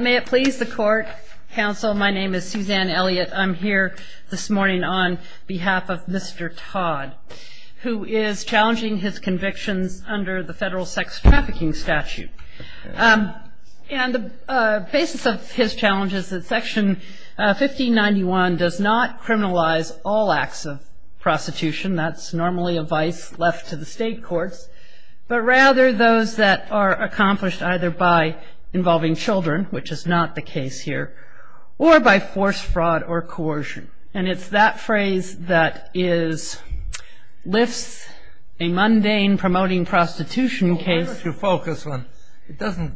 may it please the court counsel my name is Suzanne Elliott I'm here this morning on behalf of mr. Todd who is challenging his convictions under the federal sex trafficking statute and the basis of his challenge is that section 1591 does not criminalize all acts of prostitution that's normally a vice left to the state courts but rather those that are accomplished either by involving children which is not the case here or by force fraud or coercion and it's that phrase that is lifts a mundane promoting prostitution case to focus on it doesn't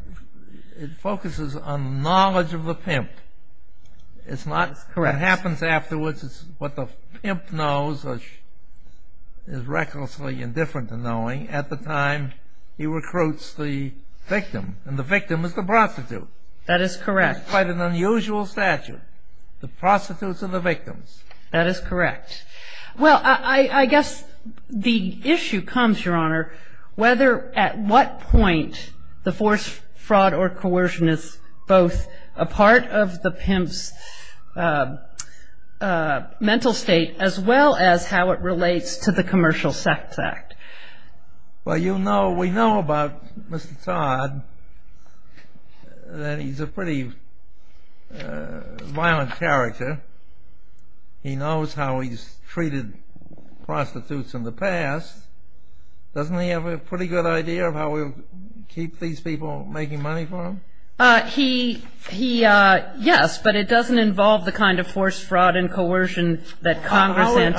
it focuses on knowledge of the pimp it's not correct happens afterwards it's what the pimp knows is recklessly indifferent to knowing at the time he recruits the victim and the victim is the prostitute that is correct quite an unusual statute the prostitutes are the victims that is correct well I guess the issue comes your honor whether at what point the force fraud or coercion is both a part of the pimp's mental state as well as how it relates to the commercial sex act well you know we know about mr. Todd that he's a pretty violent character he knows how he's treated prostitutes in the past doesn't he have a pretty good idea of how we keep these people making money from he he yes but it doesn't involve the kind of force fraud and coercion that Congress if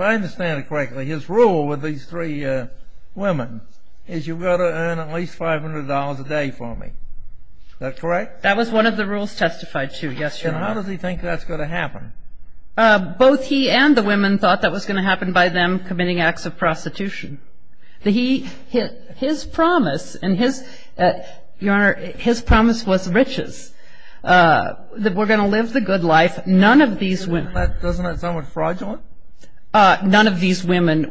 I understand it correctly his rule with these three women is you gotta earn at least five hundred dollars a day for me that's correct that was one of the rules testified to yes how does he think that's going to happen both he and the he his promise and his your honor his promise was riches that we're going to live the good life none of these women fraudulent none of these women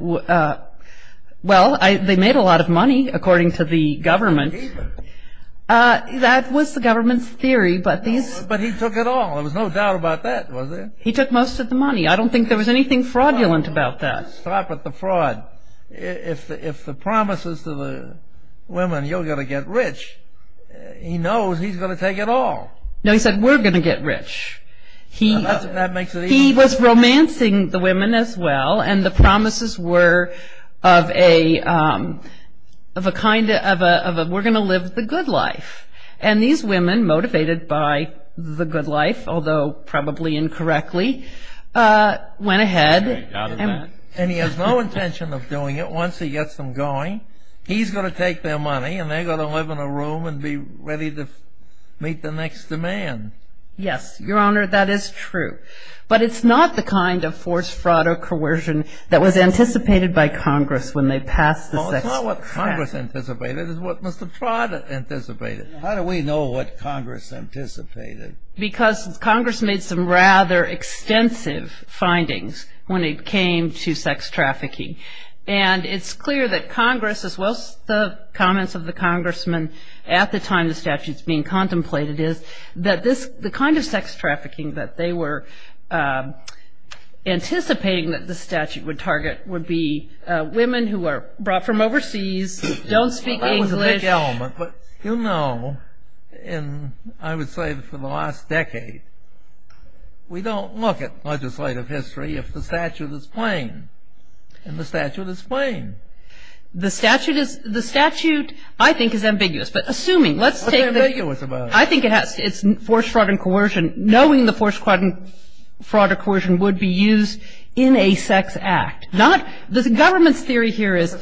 well they made a lot of money according to the government that was the government's theory but these but he took it all it was no doubt about that he took most of the money I don't think there was anything fraudulent about that stop at the fraud if the if the promises to the women you're gonna get rich he knows he's gonna take it all no he said we're gonna get rich he he was romancing the women as well and the promises were of a of a kind of a we're gonna live the good life and these women motivated by the good life although probably incorrectly went ahead and he has no intention of doing it once he gets them going he's gonna take their money and they're gonna live in a room and be ready to meet the next demand yes your honor that is true but it's not the kind of forced fraud or coercion that was anticipated by Congress when they passed the sex what Congress anticipated is what mr. Prada anticipated how do we know what Congress anticipated because Congress made some rather extensive findings when it came to sex trafficking and it's clear that Congress as well as the comments of the congressman at the time the statutes being contemplated is that this the kind of sex trafficking that they were anticipating that the statute would target would be women who are brought from overseas don't speak English element but you know and I would say that for the last decade we don't look at legislative history if the statute is playing and the statute is playing the statute is the statute I think is ambiguous but assuming let's say that you was about I think it has its force fraud and coercion knowing the force quite and fraud or coercion would be used in a sex act not this government's here is the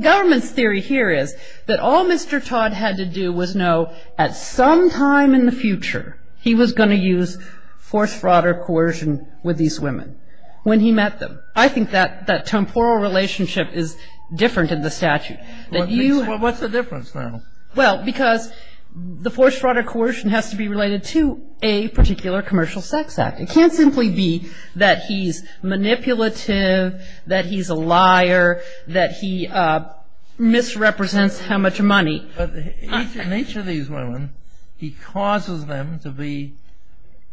government's theory here is that all mr. Todd had to do was know at some time in the future he was going to use force fraud or coercion with these women when he met them I think that that temporal relationship is different in the statute that you well because the force fraud or coercion has to be related to a particular commercial sex act can't simply be that he's manipulative that he's a liar that he misrepresents how much money each of these women he causes them to be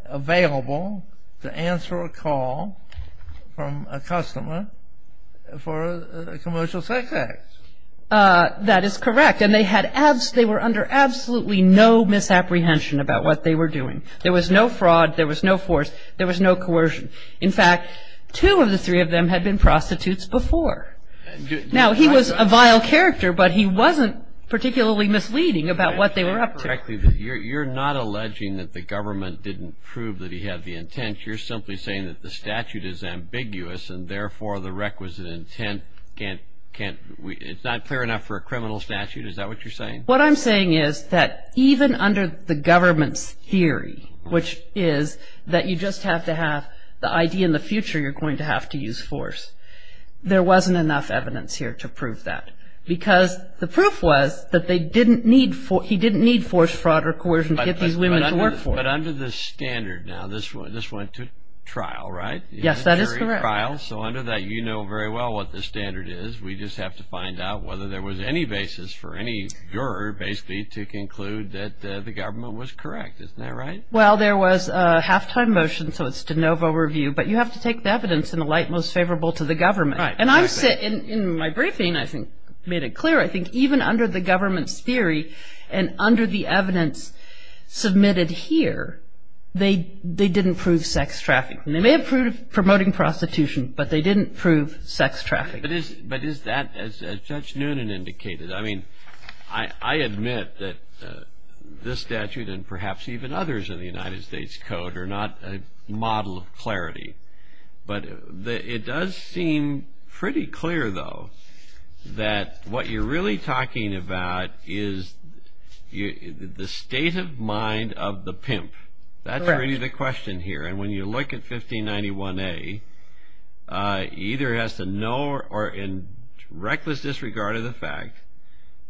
available to answer a call from a customer for a commercial sex act that is correct and they had abs they were under absolutely no misapprehension about what they were doing there was no two of the three of them had been prostitutes before now he was a vile character but he wasn't particularly misleading about what they were up to you're not alleging that the government didn't prove that he had the intent you're simply saying that the statute is ambiguous and therefore the requisite intent can't can't it's not fair enough for a criminal statute is that what you're saying what I'm saying is that even under the government's theory which is that you just have to have the idea in the future you're going to have to use force there wasn't enough evidence here to prove that because the proof was that they didn't need for he didn't need force fraud or coercion to get these women to work for him. But under the standard now this one this went to trial right? Yes that is correct. So under that you know very well what the standard is we just have to find out whether there was any basis for any juror basically to conclude that the there was a halftime motion so it's de novo review but you have to take the evidence in the light most favorable to the government and I'm sitting in my briefing I think made it clear I think even under the government's theory and under the evidence submitted here they they didn't prove sex traffic they may have proved promoting prostitution but they didn't prove sex traffic. But is that as Judge Noonan indicated I mean I admit that this statute and perhaps even others in the United States Code are not a model of clarity but it does seem pretty clear though that what you're really talking about is the state of mind of the pimp that's really the question here and when you look at 1591a either has to know or in reckless disregard of the fact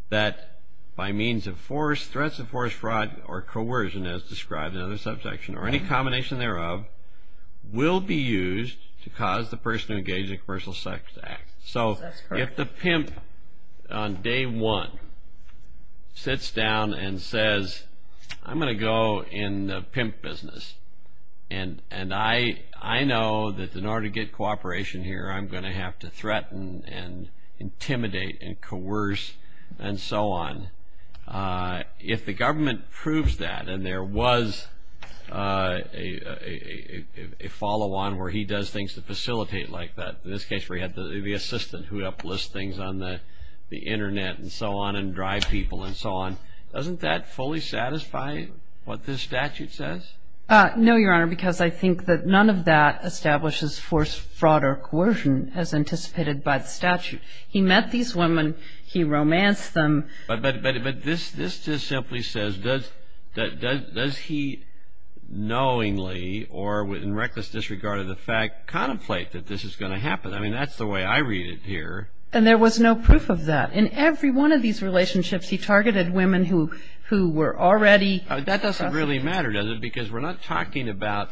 that by means of threats of force fraud or coercion as described in other subsection or any combination thereof will be used to cause the person engaged in commercial sex act so if the pimp on day one sits down and says I'm gonna go in the pimp business and and I I know that in order to get cooperation here I'm gonna have to threaten and intimidate and coerce and so on if the government proves that and there was a follow-on where he does things to facilitate like that in this case we had the assistant who uplist things on the internet and so on and drive people and so on doesn't that fully satisfy what this statute says no your honor because I think that none of that establishes force fraud or coercion as anticipated by the statute he met these women he romanced them but but it but this this just simply says does that does he knowingly or within reckless disregard of the fact contemplate that this is going to happen I mean that's the way I read it here and there was no proof of that in every one of these relationships he targeted women who who were already that doesn't really matter does it because we're not talking about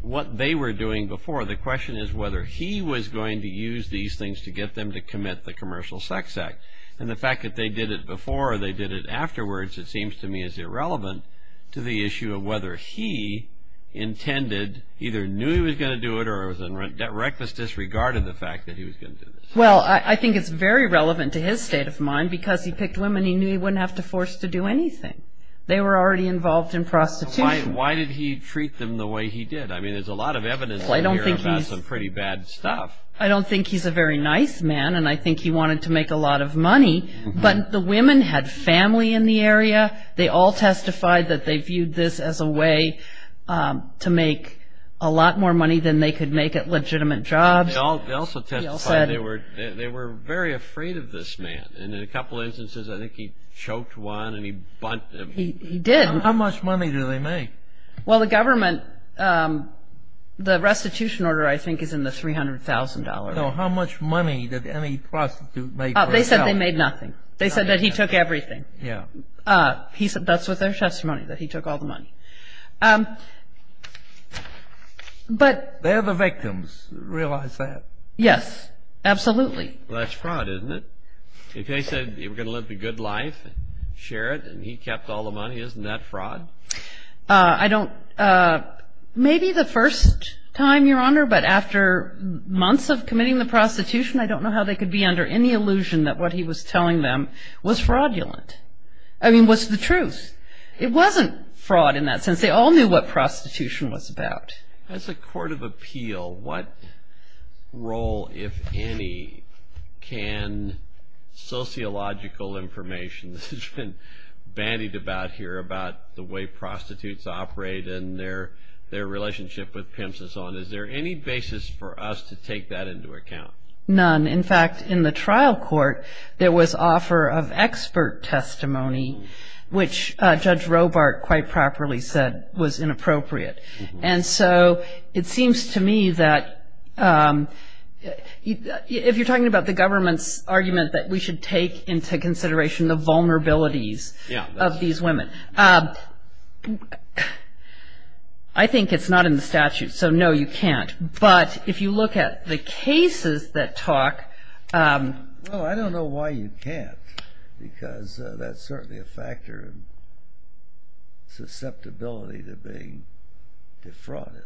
what they were doing before the question is whether he was going to use these things to get them to commit the commercial sex act and the fact that they did it before they did it afterwards it seems to me is irrelevant to the issue of whether he intended either knew he was going to do it or was in rent debt reckless disregard of the fact that he was going to well I think it's very relevant to his state of mind because he picked women he knew he wouldn't have to force to do anything they were already involved in prostitution why did he treat them the way he did I mean there's a lot of evidence I don't think he's pretty bad stuff I don't think he's a very nice man and I think he wanted to make a lot of money but the women had family in the area they all testified that they viewed this as a way to make a lot more money than they could make it legitimate jobs they were they were very afraid of this man and in a couple instances I think he choked one and he did how much money do they make well the government the restitution order I think is in the $300,000 how much money did any prostitute make they said they made nothing they said that he took everything yeah he said that's what their testimony that he took all the money but they're the victims realize that yes absolutely that's fraud isn't it if they said you were gonna live the good life share it and he kept all the money isn't that fraud I don't maybe the first time your honor but after months of committing the prostitution I don't know how they could be under any illusion that what he was telling them was fraudulent I mean what's the truth it wasn't fraud in that sense they all knew what prostitution was about as a court of appeal what role if any can sociological information this has been bandied about here about the way prostitutes operate and their their relationship with pimps and so on is there any basis for us to take that into account none in fact in the trial court there was offer of expert testimony which judge Robart quite properly said was inappropriate and so it seems to me that if you're talking about the government's argument that we should take into consideration the vulnerabilities of these women I think it's not in the statute so no you can't but if you look at the cases that talk I don't know why you can't because that's certainly a factor susceptibility to being defrauded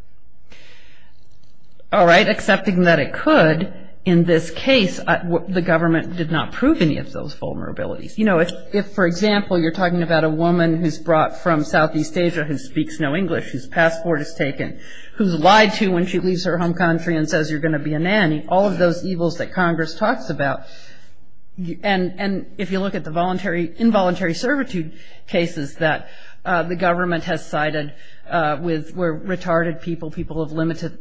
all right accepting that it could in this case the government did not prove any of those vulnerabilities you know if for example you're talking about a woman who's brought from Southeast Asia who speaks no English whose passport is taken who's lied to when she leaves her home country and says you're going to be a nanny all of those evils that Congress talks about and and if you look at the voluntary involuntary servitude cases that the government has cited with we're retarded people people of limited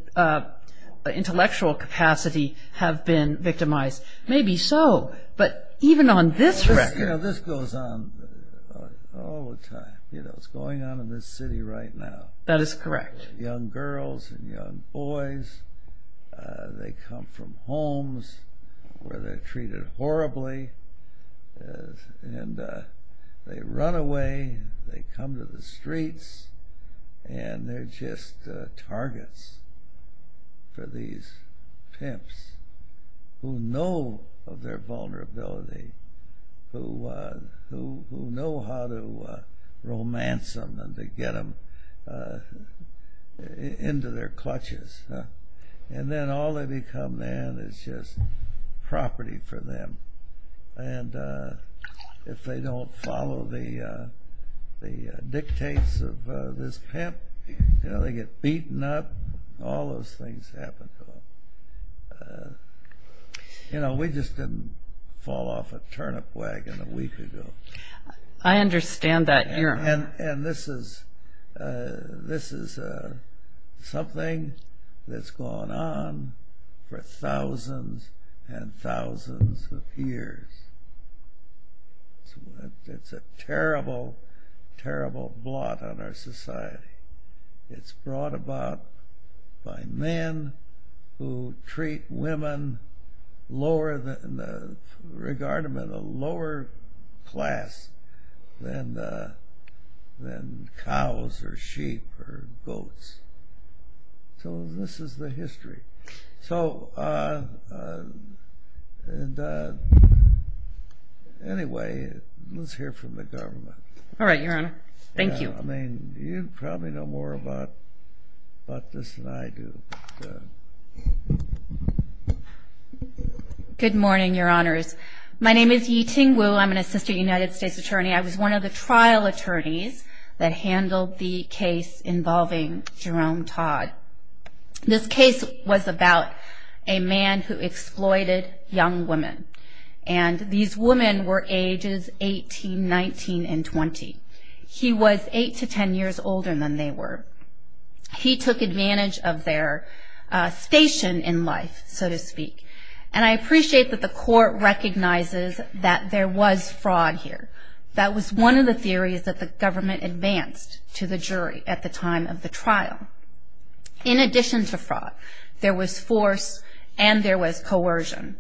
intellectual capacity have been victimized maybe so but even on this track you know this goes on all the time you know it's going on in this city right now that is young girls and young boys they come from homes where they're treated horribly and they run away they come to the streets and they're just targets for these pimps who know of their vulnerability who who know how to romance them and to get them into their clutches and then all they become then it's just property for them and if they don't follow the the dictates of this pimp you know they get beaten up all those things happen to them you know we just didn't fall off a turnip wagon a week ago I understand that and and this is this is something that's gone on for thousands and thousands of years it's a terrible terrible blot on our society it's brought about by men who treat women lower than the regard them in a lower class than than cows or sheep or goats so this is the history so anyway let's hear from the government all right good morning your honors my name is Yi Ting Wu I'm an assistant United States attorney I was one of the trial attorneys that handled the case involving Jerome Todd this case was about a man who exploited young women and these women were ages 18 19 and 20 he was 8 to 10 years older than they were he took advantage of their station in life so to speak and I appreciate that the court recognizes that there was fraud here that was one of the theories that the government advanced to the jury at the time of the trial in addition to fraud there was force and there was coercion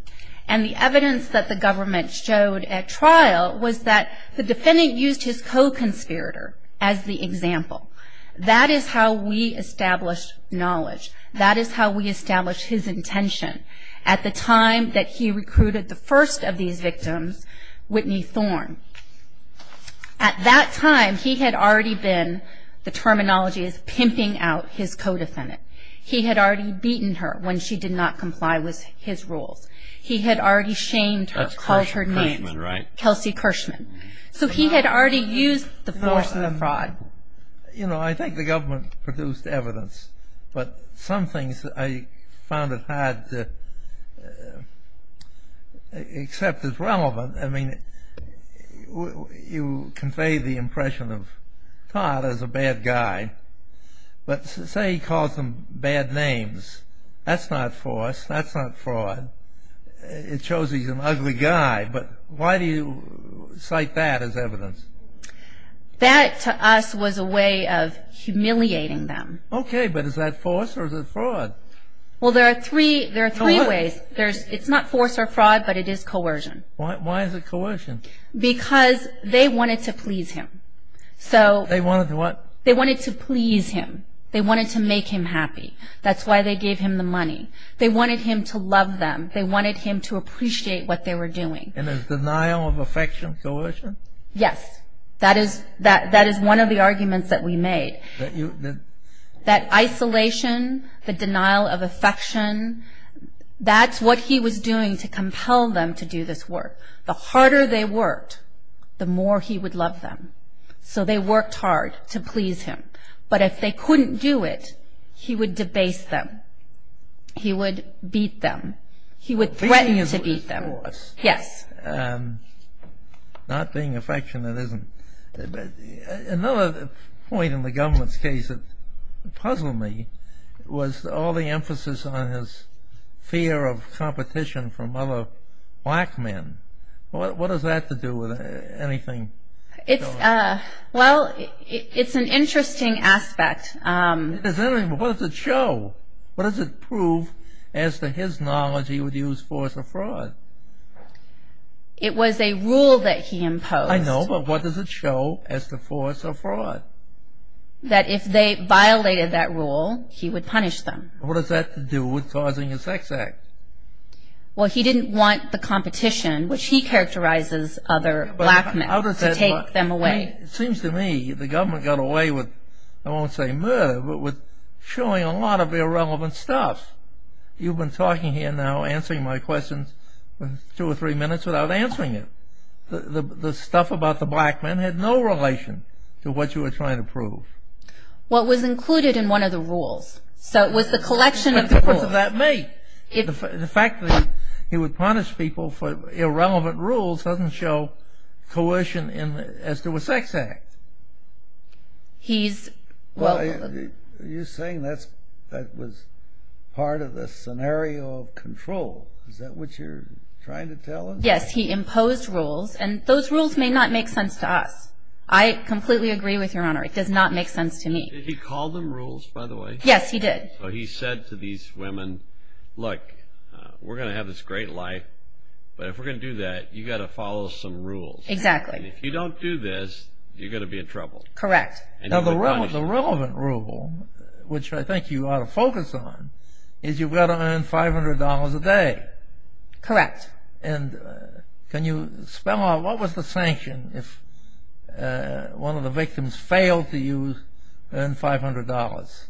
and the evidence that the government showed at trial was that the defendant used his co-conspirator as the example that is how we establish knowledge that is how we establish his intention at the time that he recruited the first of these victims Whitney Thorn at that time he had already been the terminology is pimping out his co-defendant he had already beaten her when she did not comply with his rules he had already shamed her called her name Kelsey Kirschman so he had already used the force of the fraud you know I think the government produced evidence but some things I found it hard to accept as relevant I mean you convey the impression of Todd as a bad guy but say he called some bad names that's not force that's not fraud it shows he's an ugly guy but why do you cite that as that to us was a way of humiliating them okay but is that force or is it fraud well there are three there are three ways there's it's not force or fraud but it is coercion why is it coercion because they wanted to please him so they wanted to what they wanted to please him they wanted to make him happy that's why they gave him the money they wanted him to love them they wanted him to appreciate what they were doing in his denial of affection coercion yes that is that that is one of the arguments that we made that you did that isolation the denial of affection that's what he was doing to compel them to do this work the harder they worked the more he would love them so they worked hard to please him but if they couldn't do it he would debase them he would beat them he would threaten to beat them yes not being affectionate isn't another point in the government's case that puzzled me was all the emphasis on his fear of competition from other black men what does that to do with anything it's uh well it's an interesting aspect what does it show what does it prove as to his knowledge he would use force or fraud it was a rule that he imposed I know but what does it show as to force or fraud that if they violated that rule he would punish them what does that to do with causing a sex act well he didn't want the competition which he characterizes other black men to take them away it seems to me the government got away with I won't say murder but with showing a lot of irrelevant stuff you've been talking here now answering my questions for two or three minutes without answering it the the stuff about the black men had no relation to what you were trying to prove what was included in one of the rules so it was the collection of people that make it the fact that he would punish people for you saying that's that was part of the scenario of control is that what you're trying to tell him yes he imposed rules and those rules may not make sense to us I completely agree with your honor it does not make sense to me he called them rules by the way yes he did so he said to these women look we're gonna have this great life but if we're gonna do that you got to follow some rules exactly if you don't do this you're gonna be in trouble correct now the relevant rule which I think you ought to focus on is you've got to earn five hundred dollars a day correct and can you spell out what was the sanction if one of the victims failed to use earn five hundred dollars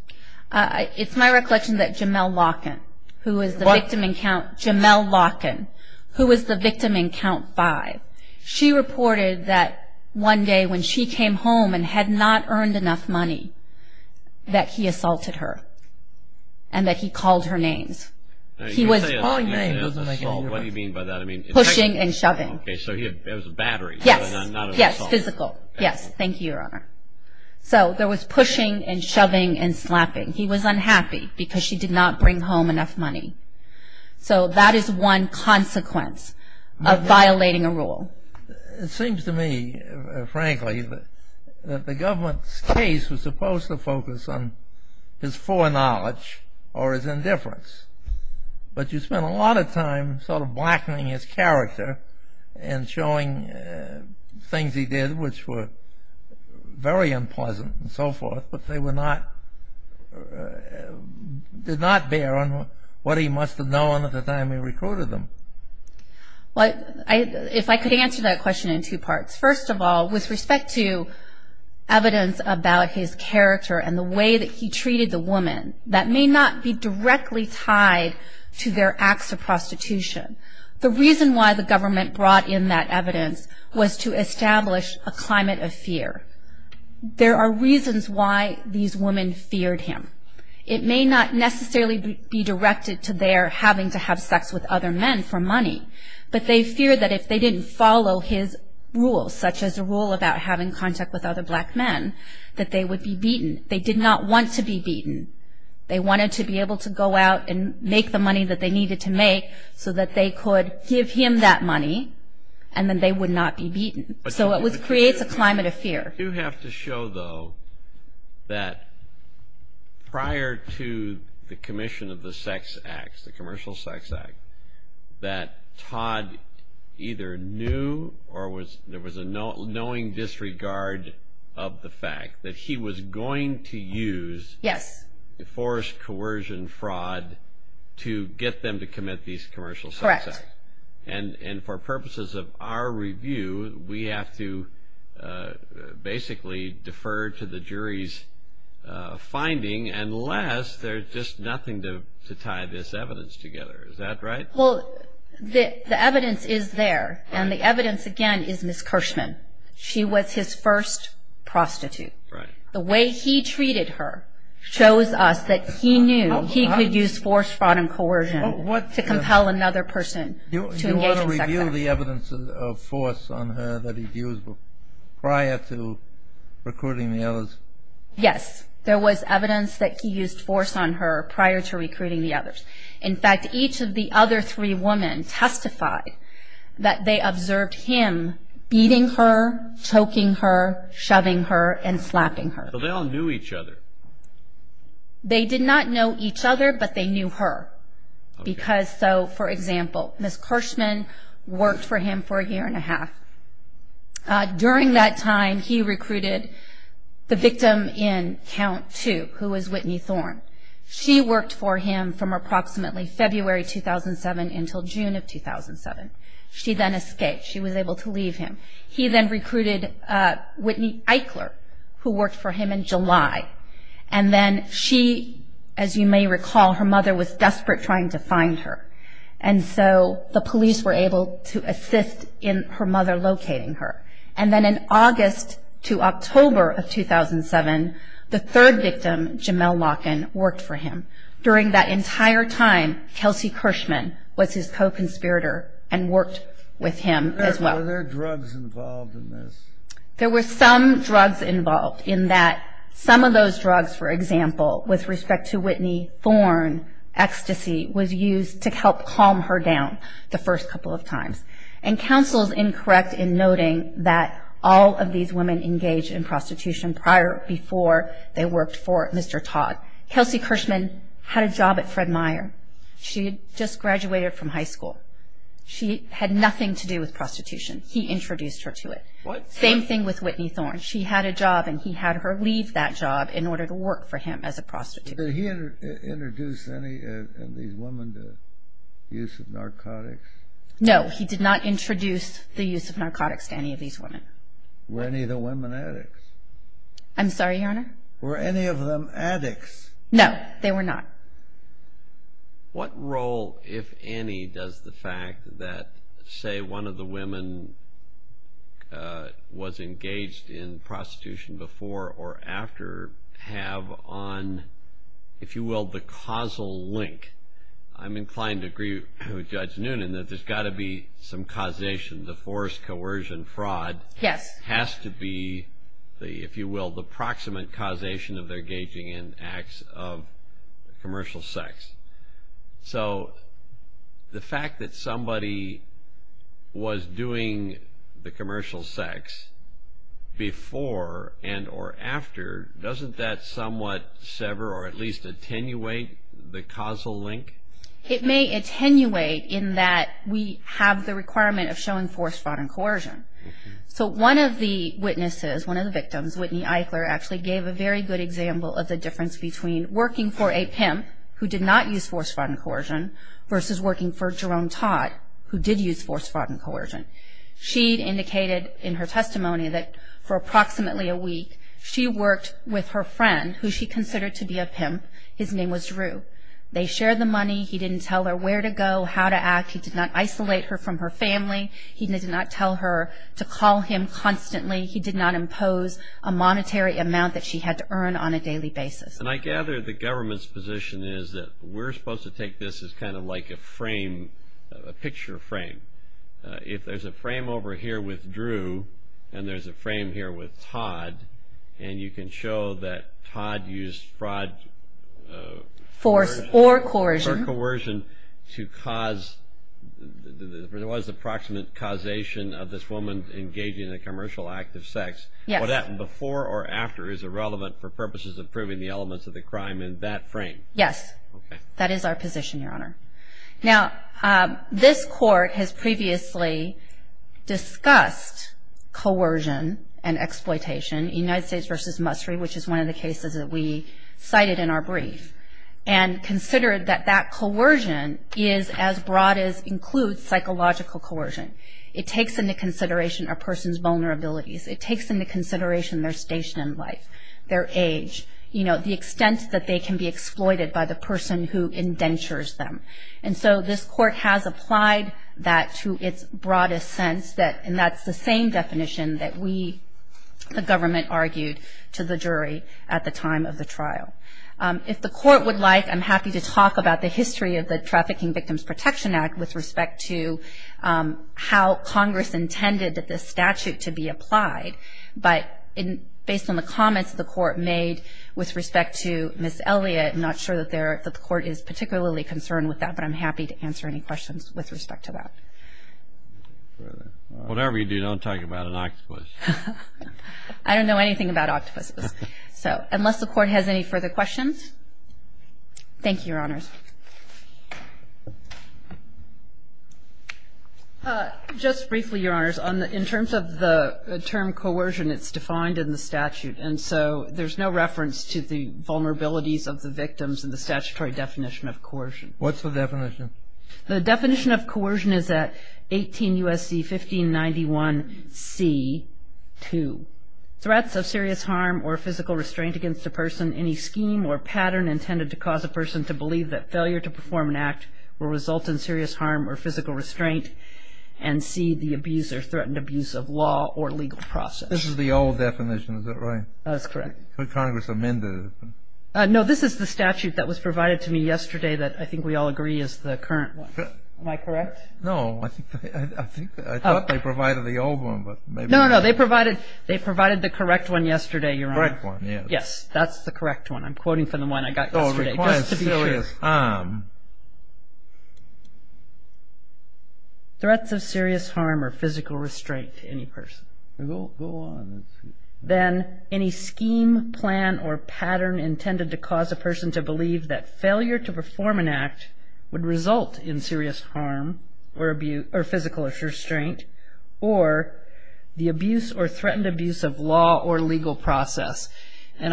it's my recollection that Jamel Larkin who is the victim in count Jamel Larkin who was the victim in count five she reported that one day when she came home and had not earned enough money that he assaulted her and that he called her names he was pushing and shoving yes yes physical yes thank you your honor so there was pushing and shoving and slapping he was unhappy because she did not bring home enough money so that is one consequence of violating a rule it seems to me frankly that the government's case was supposed to focus on his foreknowledge or his indifference but you spent a lot of time sort of blackening his character and showing things he did which were very unpleasant and so forth but they were not did not bear on what he must have known at the time we recruited them what if I could answer that question in two parts first of all with respect to evidence about his character and the way that he treated the woman that may not be directly tied to their acts of prostitution the reason why the government brought in that evidence was to establish a climate of fear there are reasons why these women feared him it may not necessarily be directed to their having to have sex with other men for money but they fear that if they didn't follow his rules such as a rule about having contact with other black men that they would be beaten they did not want to be beaten they wanted to be able to go out and make the money that they needed to make so that they could give him that money and then they would not be beaten so it was creates a climate of fear you have to show though that prior to the commission of the sex acts the commercial sex act that Todd either knew or was there was a no knowing disregard of the fact that he was going to use yes forced coercion fraud to get them to commit these commercial sex acts and and for purposes of our review we have to basically defer to the jury's finding unless there's just nothing to tie this evidence together is that right well the evidence is there and the evidence again is Miss Kirschman she was his first prostitute right the way he treated her shows us that he knew he could use force, fraud and coercion to compel another person to engage in sex act. You want to review the evidence of force on her that he used prior to recruiting the others? Yes there was evidence that he used force on her prior to recruiting the others in fact each of the other three women testified that they observed him beating her, choking her, shoving her and slapping her. So they all knew each other? They did not know each other but they knew her because so for example Miss Kirschman worked for him for a year and a half during that time he recruited the for him from approximately February 2007 until June of 2007 she then escaped she was able to leave him. He then recruited Whitney Eichler who worked for him in July and then she as you may recall her mother was desperate trying to find her and so the police were able to assist in her mother locating her and then in that entire time Kelsey Kirschman was his co-conspirator and worked with him as well. Were there drugs involved in this? There were some drugs involved in that some of those drugs for example with respect to Whitney thorn ecstasy was used to help calm her down the first couple of times and counsel is incorrect in noting that all of these women engage in prostitution prior before they worked for Mr. Todd. Kelsey Kirschman had a job at Fred Meyer she just graduated from high school she had nothing to do with prostitution he introduced her to it. Same thing with Whitney Thorn she had a job and he had her leave that job in order to work for him as a prostitute. Did he introduce any of these women to use of narcotics? No he did not introduce the use of narcotics to any of these women. Were any of the women addicts? I'm sorry your honor? Were any of them addicts? No they were not. What role if any does the fact that say one of the women was engaged in prostitution before or after have on if you will the causal link. I'm inclined to agree with Judge Noonan that there's got to be some causation the forced coercion fraud has to be if you will the proximate causation of their engaging in acts of commercial sex. So the fact that somebody was doing the commercial sex before and or after doesn't that somewhat sever or at least attenuate the causal link? It may attenuate in that we have the requirement of showing forced fraud and coercion. So one of the witnesses one of the victims Whitney Eichler actually gave a very good example of the difference between working for a pimp who did not use forced fraud and coercion versus working for Jerome Todd who did use forced fraud and coercion. She indicated in her testimony that for approximately a week she worked with her friend who she considered to be a pimp. His name was Drew. They shared the money. He didn't tell her where to go. How to act. He did not isolate her from her family. He did not tell her to call him constantly. He did not impose a monetary amount that she had to earn on a daily basis. And I gather the government's position is that we're supposed to take this as kind of like a frame, a picture frame. If there's a frame over here with Drew and there's a frame here with Todd and you can show that Todd used fraud, force or coercion to cause there was a proximate causation of this woman engaging in a commercial act of sex. What happened before or after is irrelevant for purposes of proving the elements of the crime in that frame. Yes. That is our position, Your Honor. Now, this Court has previously discussed coercion and exploitation in United States v. Mustry, which is one of the cases that we cited in our brief, and considered that that coercion is as broad as it is includes psychological coercion. It takes into consideration a person's vulnerabilities. It takes into consideration their station in life, their age, the extent that they can be exploited by the person who indentures them. And so this Court has applied that to its broadest sense and that's the same definition that we, the government, argued to the jury at the time of the trial. If the Court would like, I'm happy to talk about the history of the Trafficking Victims Protection Act with respect to how Congress intended that this statute to be applied, but based on the comments the Court made with respect to Ms. Elliott, I'm not sure that the Court is particularly concerned with that, but I'm happy to answer any questions with respect to that. Whatever you do, don't talk about an octopus. I don't know anything about octopuses. So unless the Court has any further questions. Thank you, Your Honors. Just briefly, Your Honors, in terms of the term coercion, it's defined in the statute, and so there's no reference to the vulnerabilities of the victims in the statutory definition of coercion. What's the definition? The definition of coercion is at 18 U.S.C. 1591 C.2. This is the old definition, is that right? No, this is the statute that was provided to me yesterday that I think we all agree is the current one. Am I correct? No, I thought they provided the old one. No, no, they provided the correct one yesterday, Your Honors. Yes, that's the correct one. I'm quoting from the one I got yesterday. Okay, just to be sure. Threats of serious harm or physical restraint to any person. Go on and see. And I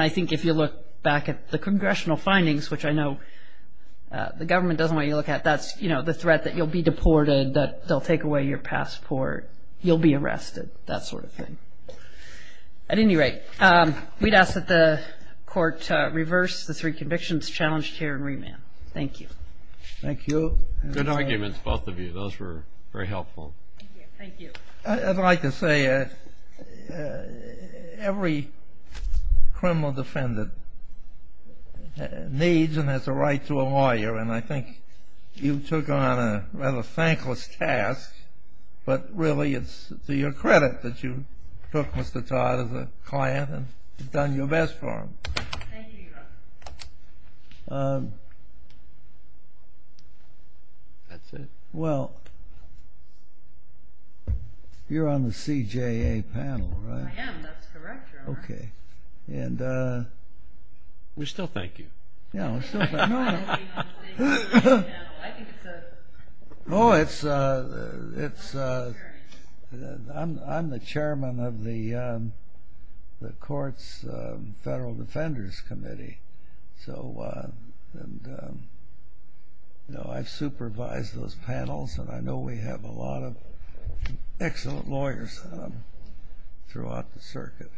think if you look back at the congressional findings, which I know the government doesn't want you to look at, that's, you know, the threat that you'll be deported, that they'll take away your passport, you'll be arrested, that sort of thing. At any rate, we'd ask that the Court reverse the three convictions challenged here and remand. Thank you. Thank you. Good arguments, both of you. Those were very helpful. I'd like to say every criminal defendant needs and has a right to a lawyer, and I think you took on a rather thankless task. But really it's to your credit that you took Mr. Todd as a client and done your best for him. That's it. Well, you're on the CJA panel, right? I am, that's correct, Your Honor. We still thank you. I'm the chairman of the Court's Federal Defenders Committee, so I've supervised those panels, and I know we have a lot of excellent lawyers throughout the circuit.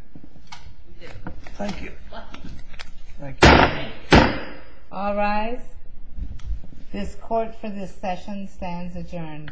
Thank you. All rise. This Court for this session stands adjourned.